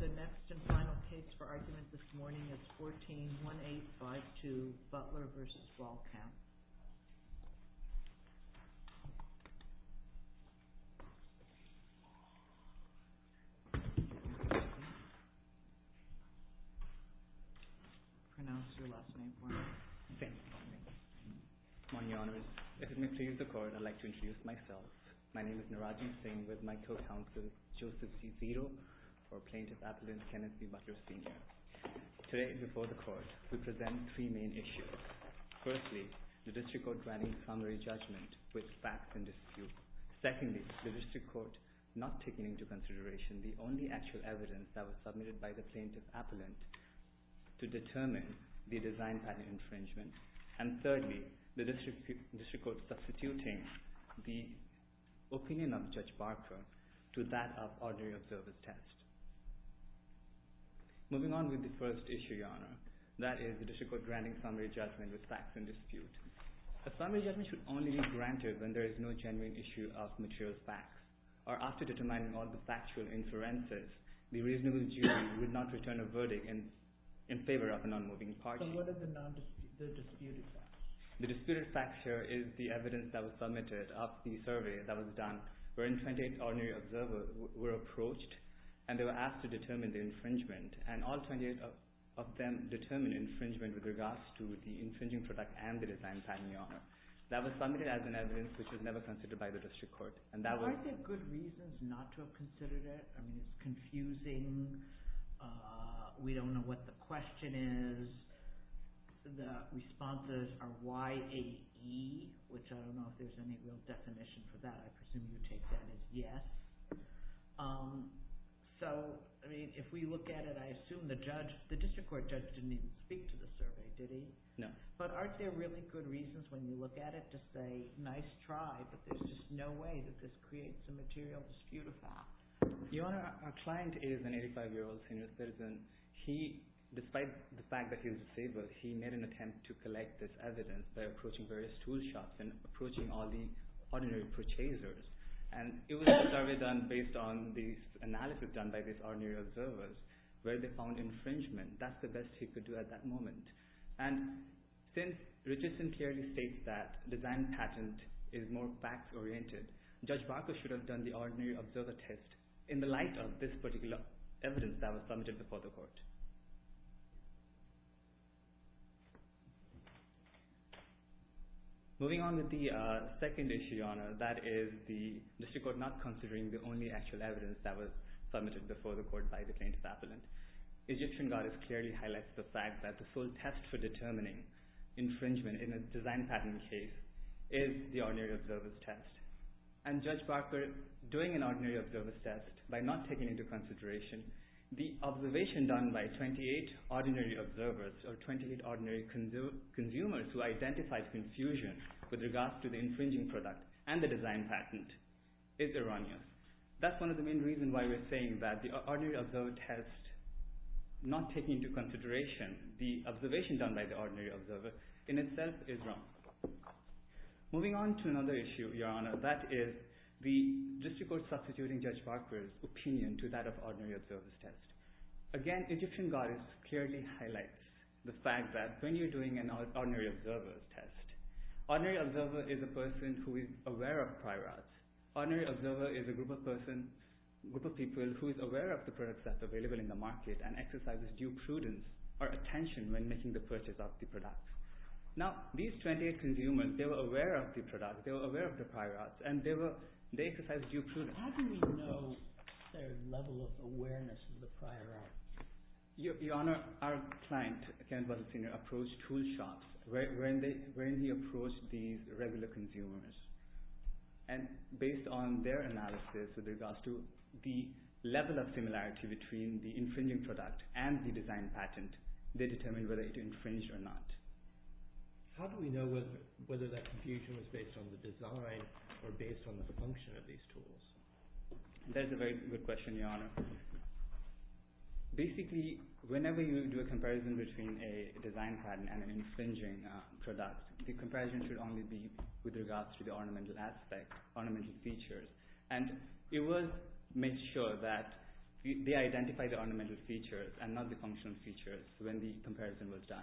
The next and final case for argument this morning is 14-1852 Butler v. Balkamp. My name is Narajan Singh with my co-counsel Joseph C. Zito, plaintiff's appellant, Kenneth B. Butler Sr. Today, before the Court, we present three main issues. Firstly, the District Court granting summary judgment with facts in dispute. Secondly, the District Court not taking into consideration the only actual evidence that was submitted by the plaintiff's appellant to determine the design pattern infringement. And thirdly, the District Court substituting the opinion of Judge Barker to that of ordinary observance test. Moving on with the first issue, Your Honour, that is the District Court granting summary judgment with facts in dispute. A summary judgment should only be granted when there is no genuine issue of material facts, or after determining all the factual inferences, the reasonable jury would not return a verdict in favour of a non-moving party. So what are the disputed facts? The disputed facts here is the evidence that was submitted after the survey that was done where 28 ordinary observers were approached and they were asked to determine the infringement and all 28 of them determined infringement with regards to the infringing product and the design. That was submitted as an evidence which was never considered by the District Court. Are there good reasons not to have considered it? I mean, it's confusing. We don't know what the question is. The responses are YAE, which I don't know if there's any real definition for that. I presume you take that as yes. So, I mean, if we look at it, I assume the judge, the District Court judge didn't even speak to the survey, did he? No. But aren't there really good reasons when you look at it to say, nice try, but there's just no way that this creates a material disputed fact? Your Honour, our client is an 85-year-old senior citizen. He, despite the fact that he's disabled, he made an attempt to collect this evidence by approaching various tool shops and approaching all the ordinary purchasers, and it was a survey done based on the analysis done by these ordinary observers where they found infringement. That's the best he could do at that moment. And since Richardson clearly states that design patent is more facts-oriented, Judge Barker should have done the ordinary observer test in the light of this particular evidence that was submitted before the Court. Moving on with the second issue, Your Honour, that is the District Court not considering the only actual evidence that was submitted before the Court by the plaintiff's appellant. Egyptian Goddess clearly highlights the fact that the full test for determining infringement in a design patent case is the ordinary observer's test. And Judge Barker doing an ordinary observer's test by not taking into consideration the observation done by 28 ordinary observers or 28 ordinary consumers who identified confusion with regards to the infringing product and the design patent is erroneous. That's one of the main reasons why we're saying that the ordinary observer test not taking into consideration the observation done by the ordinary observer in itself is wrong. Moving on to another issue, Your Honour, that is the District Court substituting Judge Barker's opinion to that of ordinary observer's test. Again, Egyptian Goddess clearly highlights the fact that when you're doing an ordinary observer's test, ordinary observer is a person who is aware of prior arts. Ordinary observer is a group of people who is aware of the products that are available in the market and exercises due prudence or attention when making the purchase of the product. Now, these 28 consumers, they were aware of the product, they were aware of the prior arts, and they exercised due prudence. How do we know their level of awareness of the prior arts? Your Honour, our client, Kenneth Butler Sr., approached tool shops when he approached these regular consumers. And based on their analysis with regards to the level of similarity between the infringing product and the design patent, they determined whether it infringed or not. How do we know whether that confusion was based on the design or based on the function of these tools? That is a very good question, Your Honour. Basically, whenever you do a comparison between a design patent and an infringing product, the comparison should only be with regards to the ornamental aspect, ornamental features. It was made sure that they identified the ornamental features and not the functional features when the comparison was done.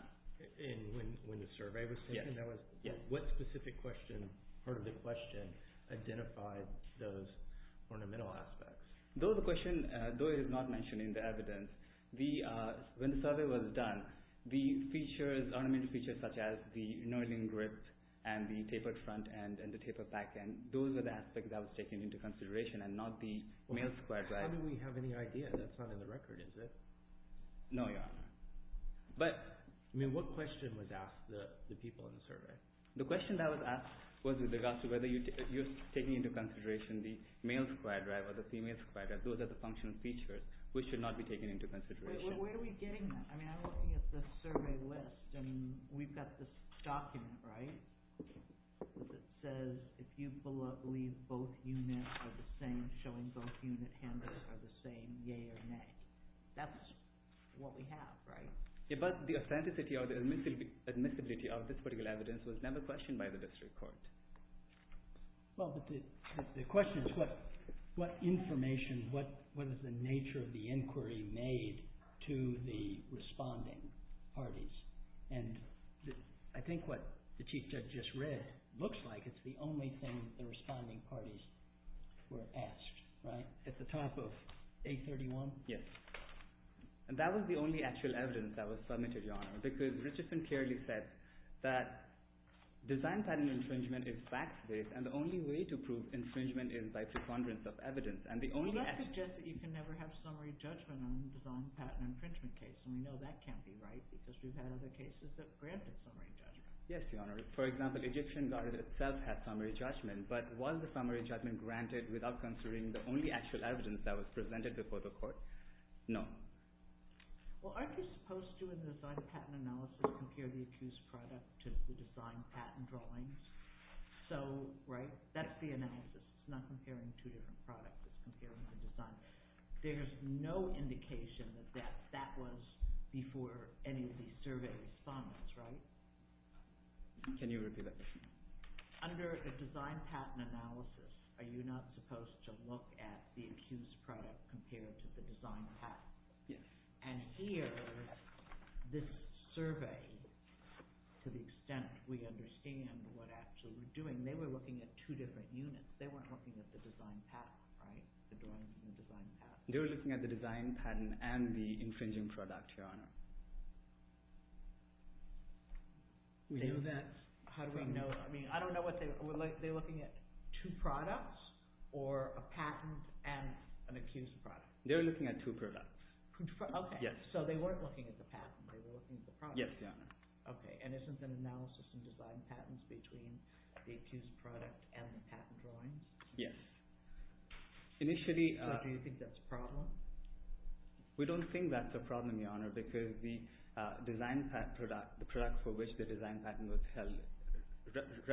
When the survey was taken, what specific part of the question identified those ornamental aspects? Though it is not mentioned in the evidence, when the survey was done, the ornamental features such as the knurling grip and the tapered front end and the tapered back end, those were the aspects that were taken into consideration and not the male square drive. How do we have any idea? That is not in the record, is it? No, Your Honour. What question was asked to the people in the survey? The question that was asked was with regards to whether you are taking into consideration the male square drive or the female square drive. Those are the functional features which should not be taken into consideration. Where are we getting that? I am looking at the survey list and we have got this document, right, that says if you believe both units are the same, showing both unit handles are the same, yea or nay. That is what we have, right? Yes, but the authenticity or the admissibility of this particular evidence was never questioned by the district court. Well, the question is what information, what is the nature of the inquiry made to the responding parties? I think what the Chief Judge just read looks like it is the only thing the responding parties were asked, right? At the top of 831? Yes. And that was the only actual evidence that was submitted, Your Honour, because Richardson clearly said that design patent infringement is fact-based and the only way to prove infringement is by preponderance of evidence. Well, that suggests that you can never have summary judgment on design patent infringement case and we know that can't be right because we have had other cases that granted summary judgment. Yes, Your Honour. For example, the Egyptian Garden itself had summary judgment, but was the summary judgment granted without considering the only actual evidence that was presented before the court? No. Well, aren't you supposed to, in the design patent analysis, compare the accused product to the design patent drawings? So, right, that is the analysis, it is not comparing two different products, it is comparing the design. There is no indication that that was before any of the survey respondents, right? Can you repeat that? Under the design patent analysis, are you not supposed to look at the accused product compared to the design patent? Yes. And here, this survey, to the extent we understand what actually we are doing, they were looking at two different units. They weren't looking at the design patent, right? The drawings and the design patent. They were looking at the design patent and the infringing product, Your Honour. How do we know? I mean, I don't know what they, they were looking at two products or a patent and an accused product? They were looking at two products. Two products, okay. Yes. So they weren't looking at the patent, they were looking at the product. Yes, Your Honour. Okay, and isn't an analysis in design patents between the accused product and the patent drawings? Yes. Initially... So do you think that's a problem? We don't think that's a problem, Your Honour, because the design product, the product for which the design patent was held,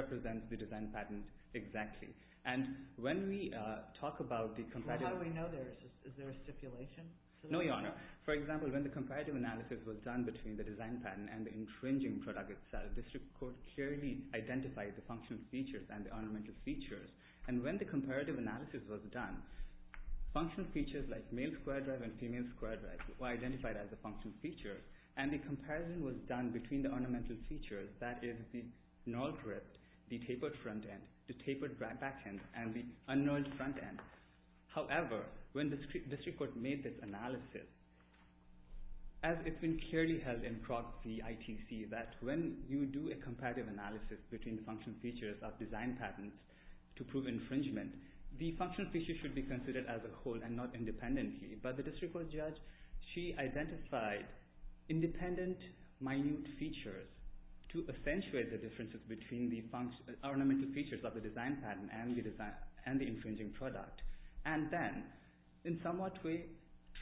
represents the design patent exactly. And when we talk about the comparative... No, Your Honour. For example, when the comparative analysis was done between the design patent and the infringing product itself, the District Court clearly identified the functional features and the ornamental features. And when the comparative analysis was done, functional features like male square drive and female square drive were identified as the functional features, and the comparison was done between the ornamental features, that is, the null drift, the tapered front end, the tapered back end, and the un-nulled front end. However, when the District Court made this analysis, as it's been clearly held in Proxy ITC that when you do a comparative analysis between functional features of design patents to prove infringement, the functional features should be considered as a whole and not independently. But the District Court judge, she identified independent, minute features to accentuate the differences between the ornamental features of the design patent and the infringing product. And then, in somewhat way,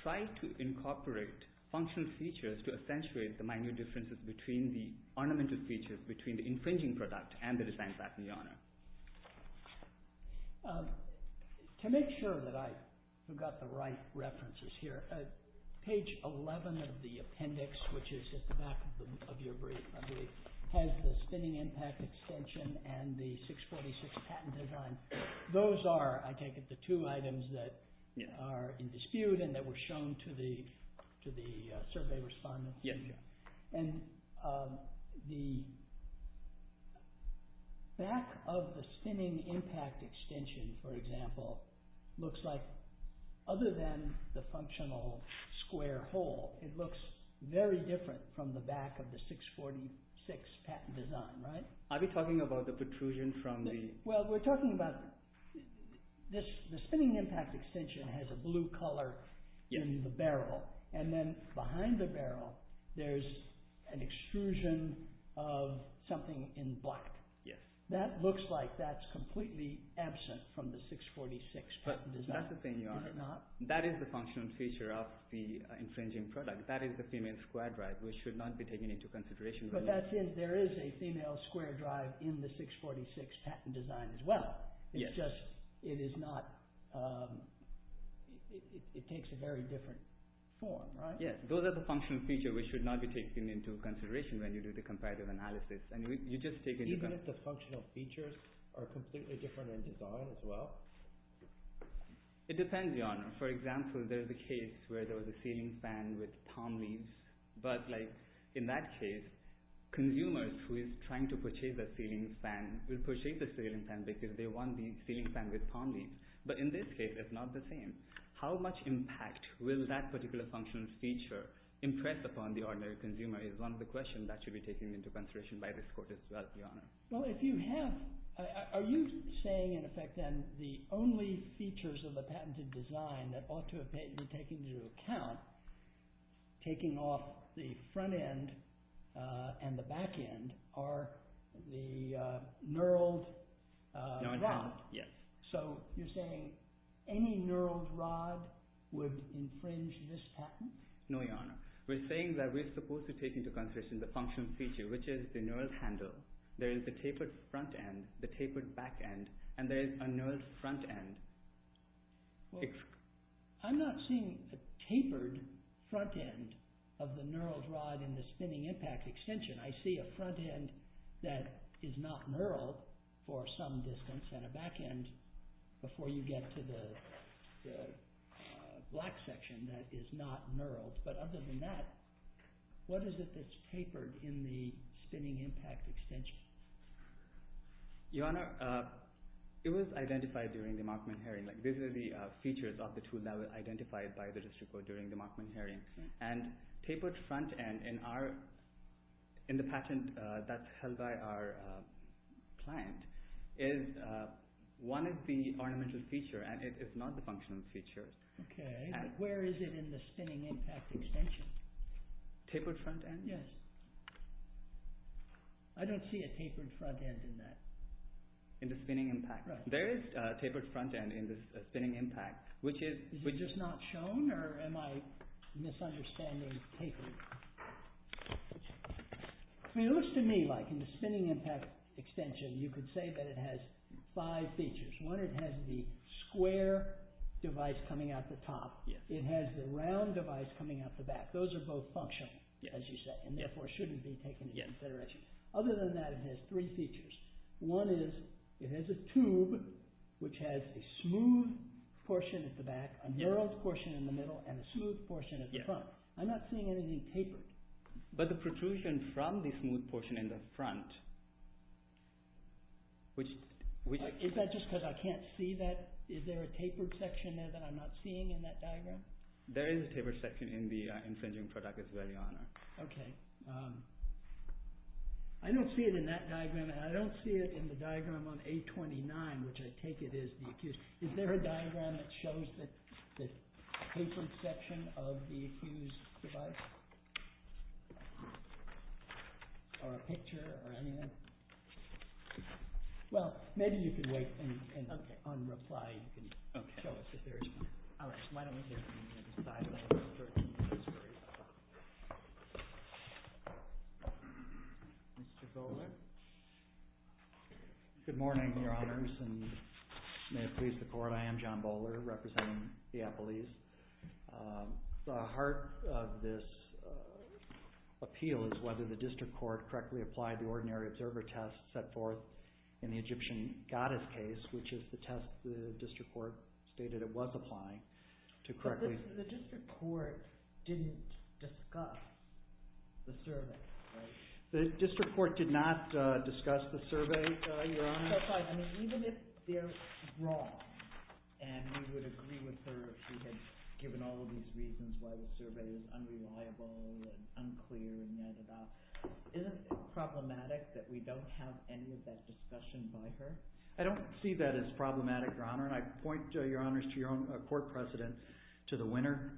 tried to incorporate functional features to accentuate the minute differences between the ornamental features, between the infringing product and the design patent, Your Honour. To make sure that I've got the right references here, page 11 of the appendix, which is at the back of your brief, I believe, has the spinning impact extension and the 646 patent design. Those are, I take it, the two items that are in dispute and that were shown to the survey respondents. Yes. And the back of the spinning impact extension, for example, looks like, other than the functional square hole, it looks very different from the back of the 646 patent design, right? Are we talking about the protrusion from the... Well, we're talking about the spinning impact extension has a blue colour in the barrel and then, behind the barrel, there's an extrusion of something in black. Yes. That looks like that's completely absent from the 646 patent design. But that's the thing, Your Honour. Is it not? That is the functional feature of the infringing product. That is the female square drive, which should not be taken into consideration. But that's in... There is a female square drive in the 646 patent design as well. Yes. It's just... It is not... It takes a very different form, right? Yes. Those are the functional features which should not be taken into consideration when you do the comparative analysis. And you just take it... Even if the functional features are completely different in design as well? It depends, Your Honour. For example, there's a case where there was a ceiling fan with palm leaves. But, like, in that case, consumers who are trying to purchase a ceiling fan will purchase a ceiling fan because they want the ceiling fan with palm leaves. But in this case, it's not the same. How much impact will that particular functional feature impress upon the ordinary consumer is one of the questions that should be taken into consideration by this Court as well, Your Honour. Well, if you have... Are you saying, in effect, then, the only features of the patented design that ought to have been taken into account, taking off the front end and the back end, are the knurled rod? Knurled rod, yes. So, you're saying any knurled rod would infringe this patent? No, Your Honour. We're saying that we're supposed to take into consideration the functional feature, which is the knurled handle. There is the tapered front end, the tapered back end, and there is a knurled front end. Well, I'm not seeing a tapered front end of the knurled rod in the spinning impact extension. I see a front end that is not knurled for some distance and a back end before you get to the black section that is not knurled. But other than that, what is it that's tapered in the spinning impact extension? Your Honour, it was identified during the Markman hearing. These are the features of the tool that were identified by the district court during the Markman hearing. And tapered front end, in the patent that's held by our client, is one of the ornamental features, and it is not the functional feature. Okay. Where is it in the spinning impact extension? Tapered front end? Yes. I don't see a tapered front end in that. In the spinning impact? Right. There is a tapered front end in the spinning impact, which is... Is it just not shown, or am I misunderstanding tapered? I mean, it looks to me like in the spinning impact extension, you could say that it has five features. One, it has the square device coming out the top. It has the round device coming out the back. Those are both functional, as you say. And therefore, shouldn't be taken into consideration. Other than that, it has three features. One is, it has a tube which has a smooth portion at the back, a narrowed portion in the middle, and a smooth portion at the front. I'm not seeing anything tapered. But the protrusion from the smooth portion in the front, which... Is that just because I can't see that? Is there a tapered section there that I'm not seeing in that diagram? There is a tapered section in the infringing product as well, Your Honour. Okay. I don't see it in that diagram, and I don't see it in the diagram on A29, which I take it is the accused. Is there a diagram that shows the tapered section of the accused's device? Or a picture, or anything? Well, maybe you can wait and on reply you can show us if there is one. All right. Why don't we hear from the other side? Mr. Bowler? Good morning, Your Honours, and may it please the Court. I am John Bowler, representing the Apple East. The heart of this appeal is whether the district court correctly applied the ordinary observer test set forth in the Egyptian goddess case, which is the test the district court stated it was applying, to correctly... The district court didn't discuss the survey, right? The district court did not discuss the survey, Your Honour. Even if they're wrong, and we would agree with her if she had given all of these reasons why the survey is unreliable and unclear and yadda yadda, isn't it problematic that we don't have any of that discussion by her? I don't see that as problematic, Your Honour, and I point, Your Honours, to your own court precedent, to the Winner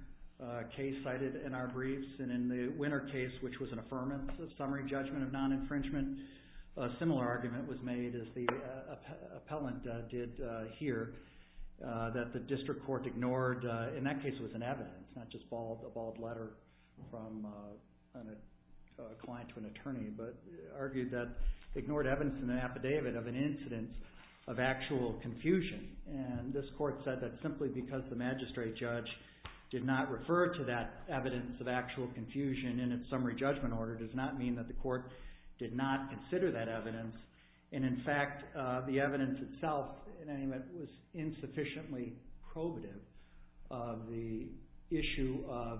case cited in our briefs. And in the Winner case, which was an affirmative summary judgment of non-infringement, a similar argument was made, as the appellant did here, that the district court ignored... In that case, it was an evidence, not just a bald letter from a client to an attorney, but argued that ignored evidence in an affidavit of an incidence of actual confusion. And this court said that simply because the magistrate judge did not refer to that evidence of actual confusion in its summary judgment order does not mean that the court did not consider that evidence. And in fact, the evidence itself, in any event, was insufficiently probative of the issue of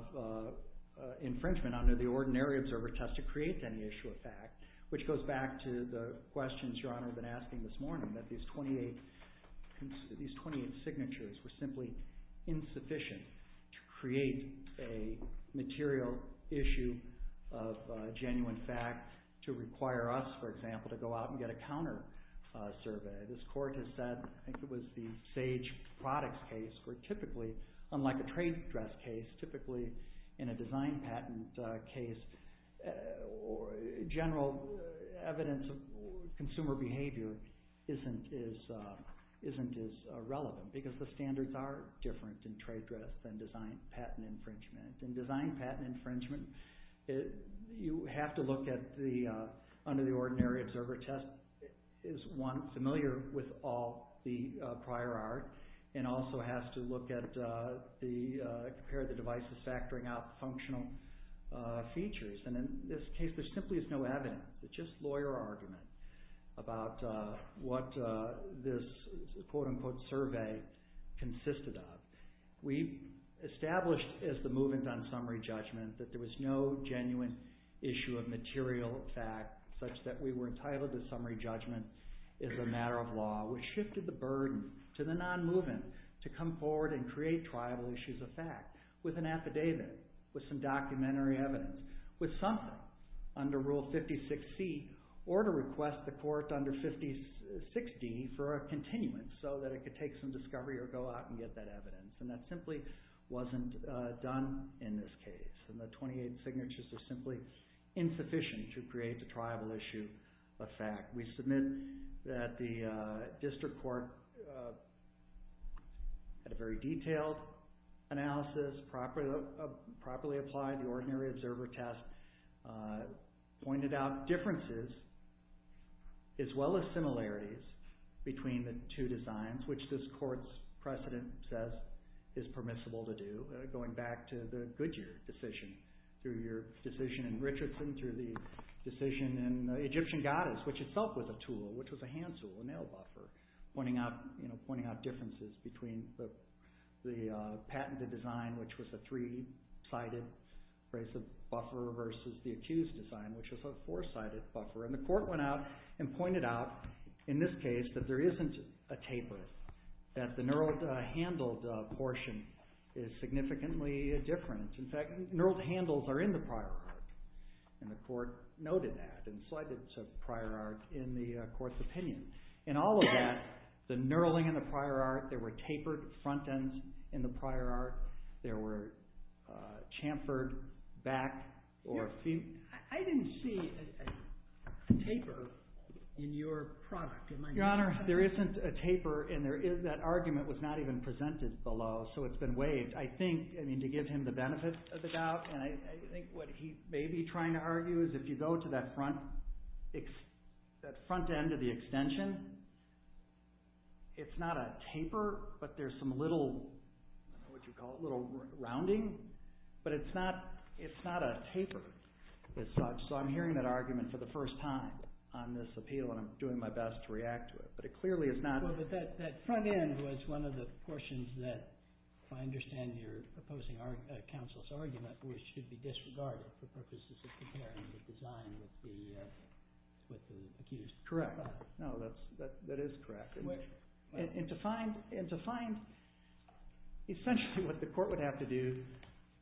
infringement under the ordinary observer test to create any issue of fact, which goes back to the questions Your Honour has been asking this morning, that these 28 signatures were simply insufficient to create a material issue of genuine fact to require us, for example, to go out and get a counter-survey. This court has said, I think it was the Sage Products case, where typically, unlike a trade dress case, typically in a design patent case, general evidence of consumer behavior isn't as relevant, because the standards are different in trade dress than design patent infringement. In design patent infringement, you have to look at the, under the ordinary observer test, is one familiar with all the prior art, and also has to look at the, compare the devices, factoring out the functional features. And in this case, there simply is no evidence. It's just lawyer argument about what this, quote unquote, survey consisted of. We established, as the movement on summary judgment, that there was no genuine issue of material fact, such that we were entitled to summary judgment as a matter of law, which shifted the burden to the non-movement to come forward and create trial issues of fact with an affidavit, with some documentary evidence, with something under Rule 56C, or to request the court under 5060 for a continuum, so that it could take some discovery or go out and get that evidence. And that simply wasn't done in this case. And the 28 signatures are simply insufficient to create the trial issue of fact. We submit that the district court had a very detailed analysis, properly applied the ordinary observer test, pointed out differences, as well as similarities, between the two designs, which this court's precedent says is permissible to do, going back to the Goodyear decision, through your decision in Richardson, through the decision in Egyptian Goddess, which itself was a tool, which was a hand tool, a nail buffer, pointing out differences between the patented design, which was a three-sided brace of buffer, versus the accused design, which was a four-sided buffer. And the court went out and pointed out, in this case, that there isn't a taper, that the knurled handled portion is significantly different. In fact, knurled handles are in the prior art. And the court noted that, and cited prior art in the court's opinion. In all of that, the knurling in the prior art, there were tapered front ends in the prior art, there were chamfered back or... I mean, I didn't see a taper in your product. Your Honor, there isn't a taper, and that argument was not even presented below, so it's been waived. I think, I mean, to give him the benefit of the doubt, and I think what he may be trying to argue is if you go to that front end of the extension, it's not a taper, but there's some little, I don't know what you'd call it, little rounding, but it's not a taper as such. So I'm hearing that argument for the first time on this appeal, and I'm doing my best to react to it. But it clearly is not... But that front end was one of the portions that, if I understand your opposing counsel's argument, which should be disregarded for purposes of comparing the design with the accused. Correct. No, that is correct. And to find essentially what the court would have to do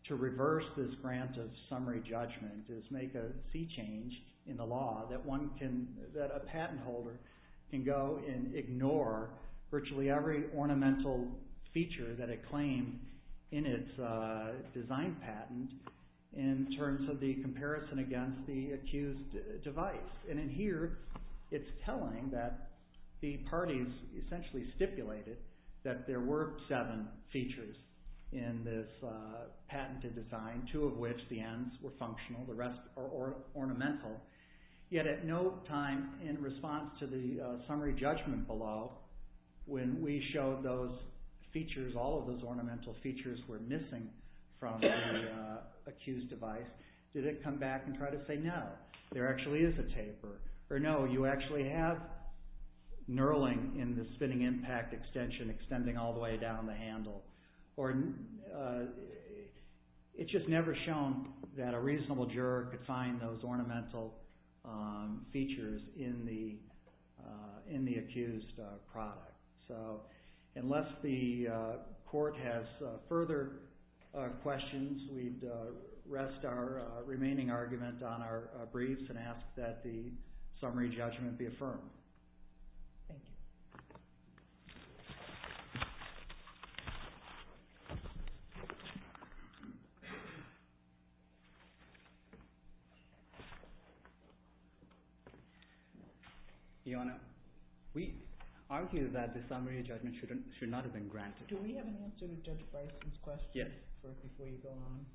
to reverse this grant of summary judgment is make a sea change in the law that a patent holder can go and ignore virtually every ornamental feature that it claimed in its design patent in terms of the comparison against the accused device. And in here, it's telling that the parties essentially stipulated that there were seven features in this patented design, two of which, the ends, were functional, the rest are ornamental. Yet at no time in response to the summary judgment below, when we showed those features, all of those ornamental features were missing from the accused device, did it come back and try to say, no, there actually is a taper. Or no, you actually have knurling in the spinning impact extension extending all the way down the handle. It's just never shown that a reasonable juror could find those ornamental features in the accused product. Unless the court has further questions, we'd rest our remaining argument on our briefs and ask that the summary judgment be affirmed. Thank you. Your Honor, we argue that the summary judgment should not have been granted. Do we have an answer to Judge Bryson's question? Yes. First, before you go on.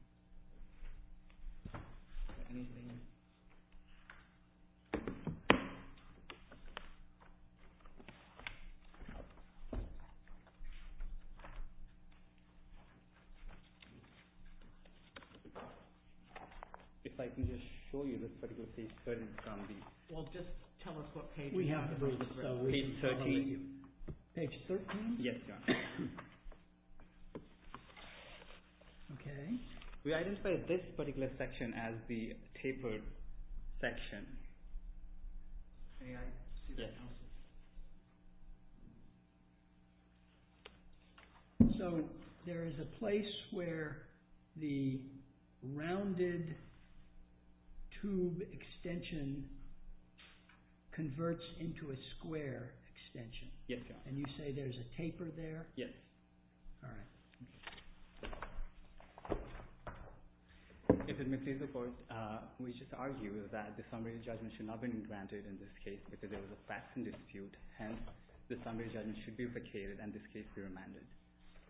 If I can just show you this particular page 13, it's going to be... Well, just tell us what page it is. Page 13. Page 13? Yes, Your Honor. We identify this particular section as the tapered section. May I see the analysis? So, there is a place where the rounded tube extension converts into a square extension. Yes, Your Honor. And you say there's a taper there? Yes. All right. If it may please the Court, we just argue that the summary judgment should not have been granted in this case because there was a facts and dispute. Hence, the summary judgment should be replicated and this case be remanded.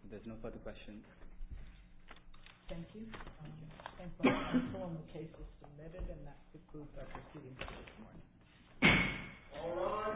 If there's no further questions... Thank you. And so, I confirm the case was submitted and that the proofs are proceeding to this morning. All rise.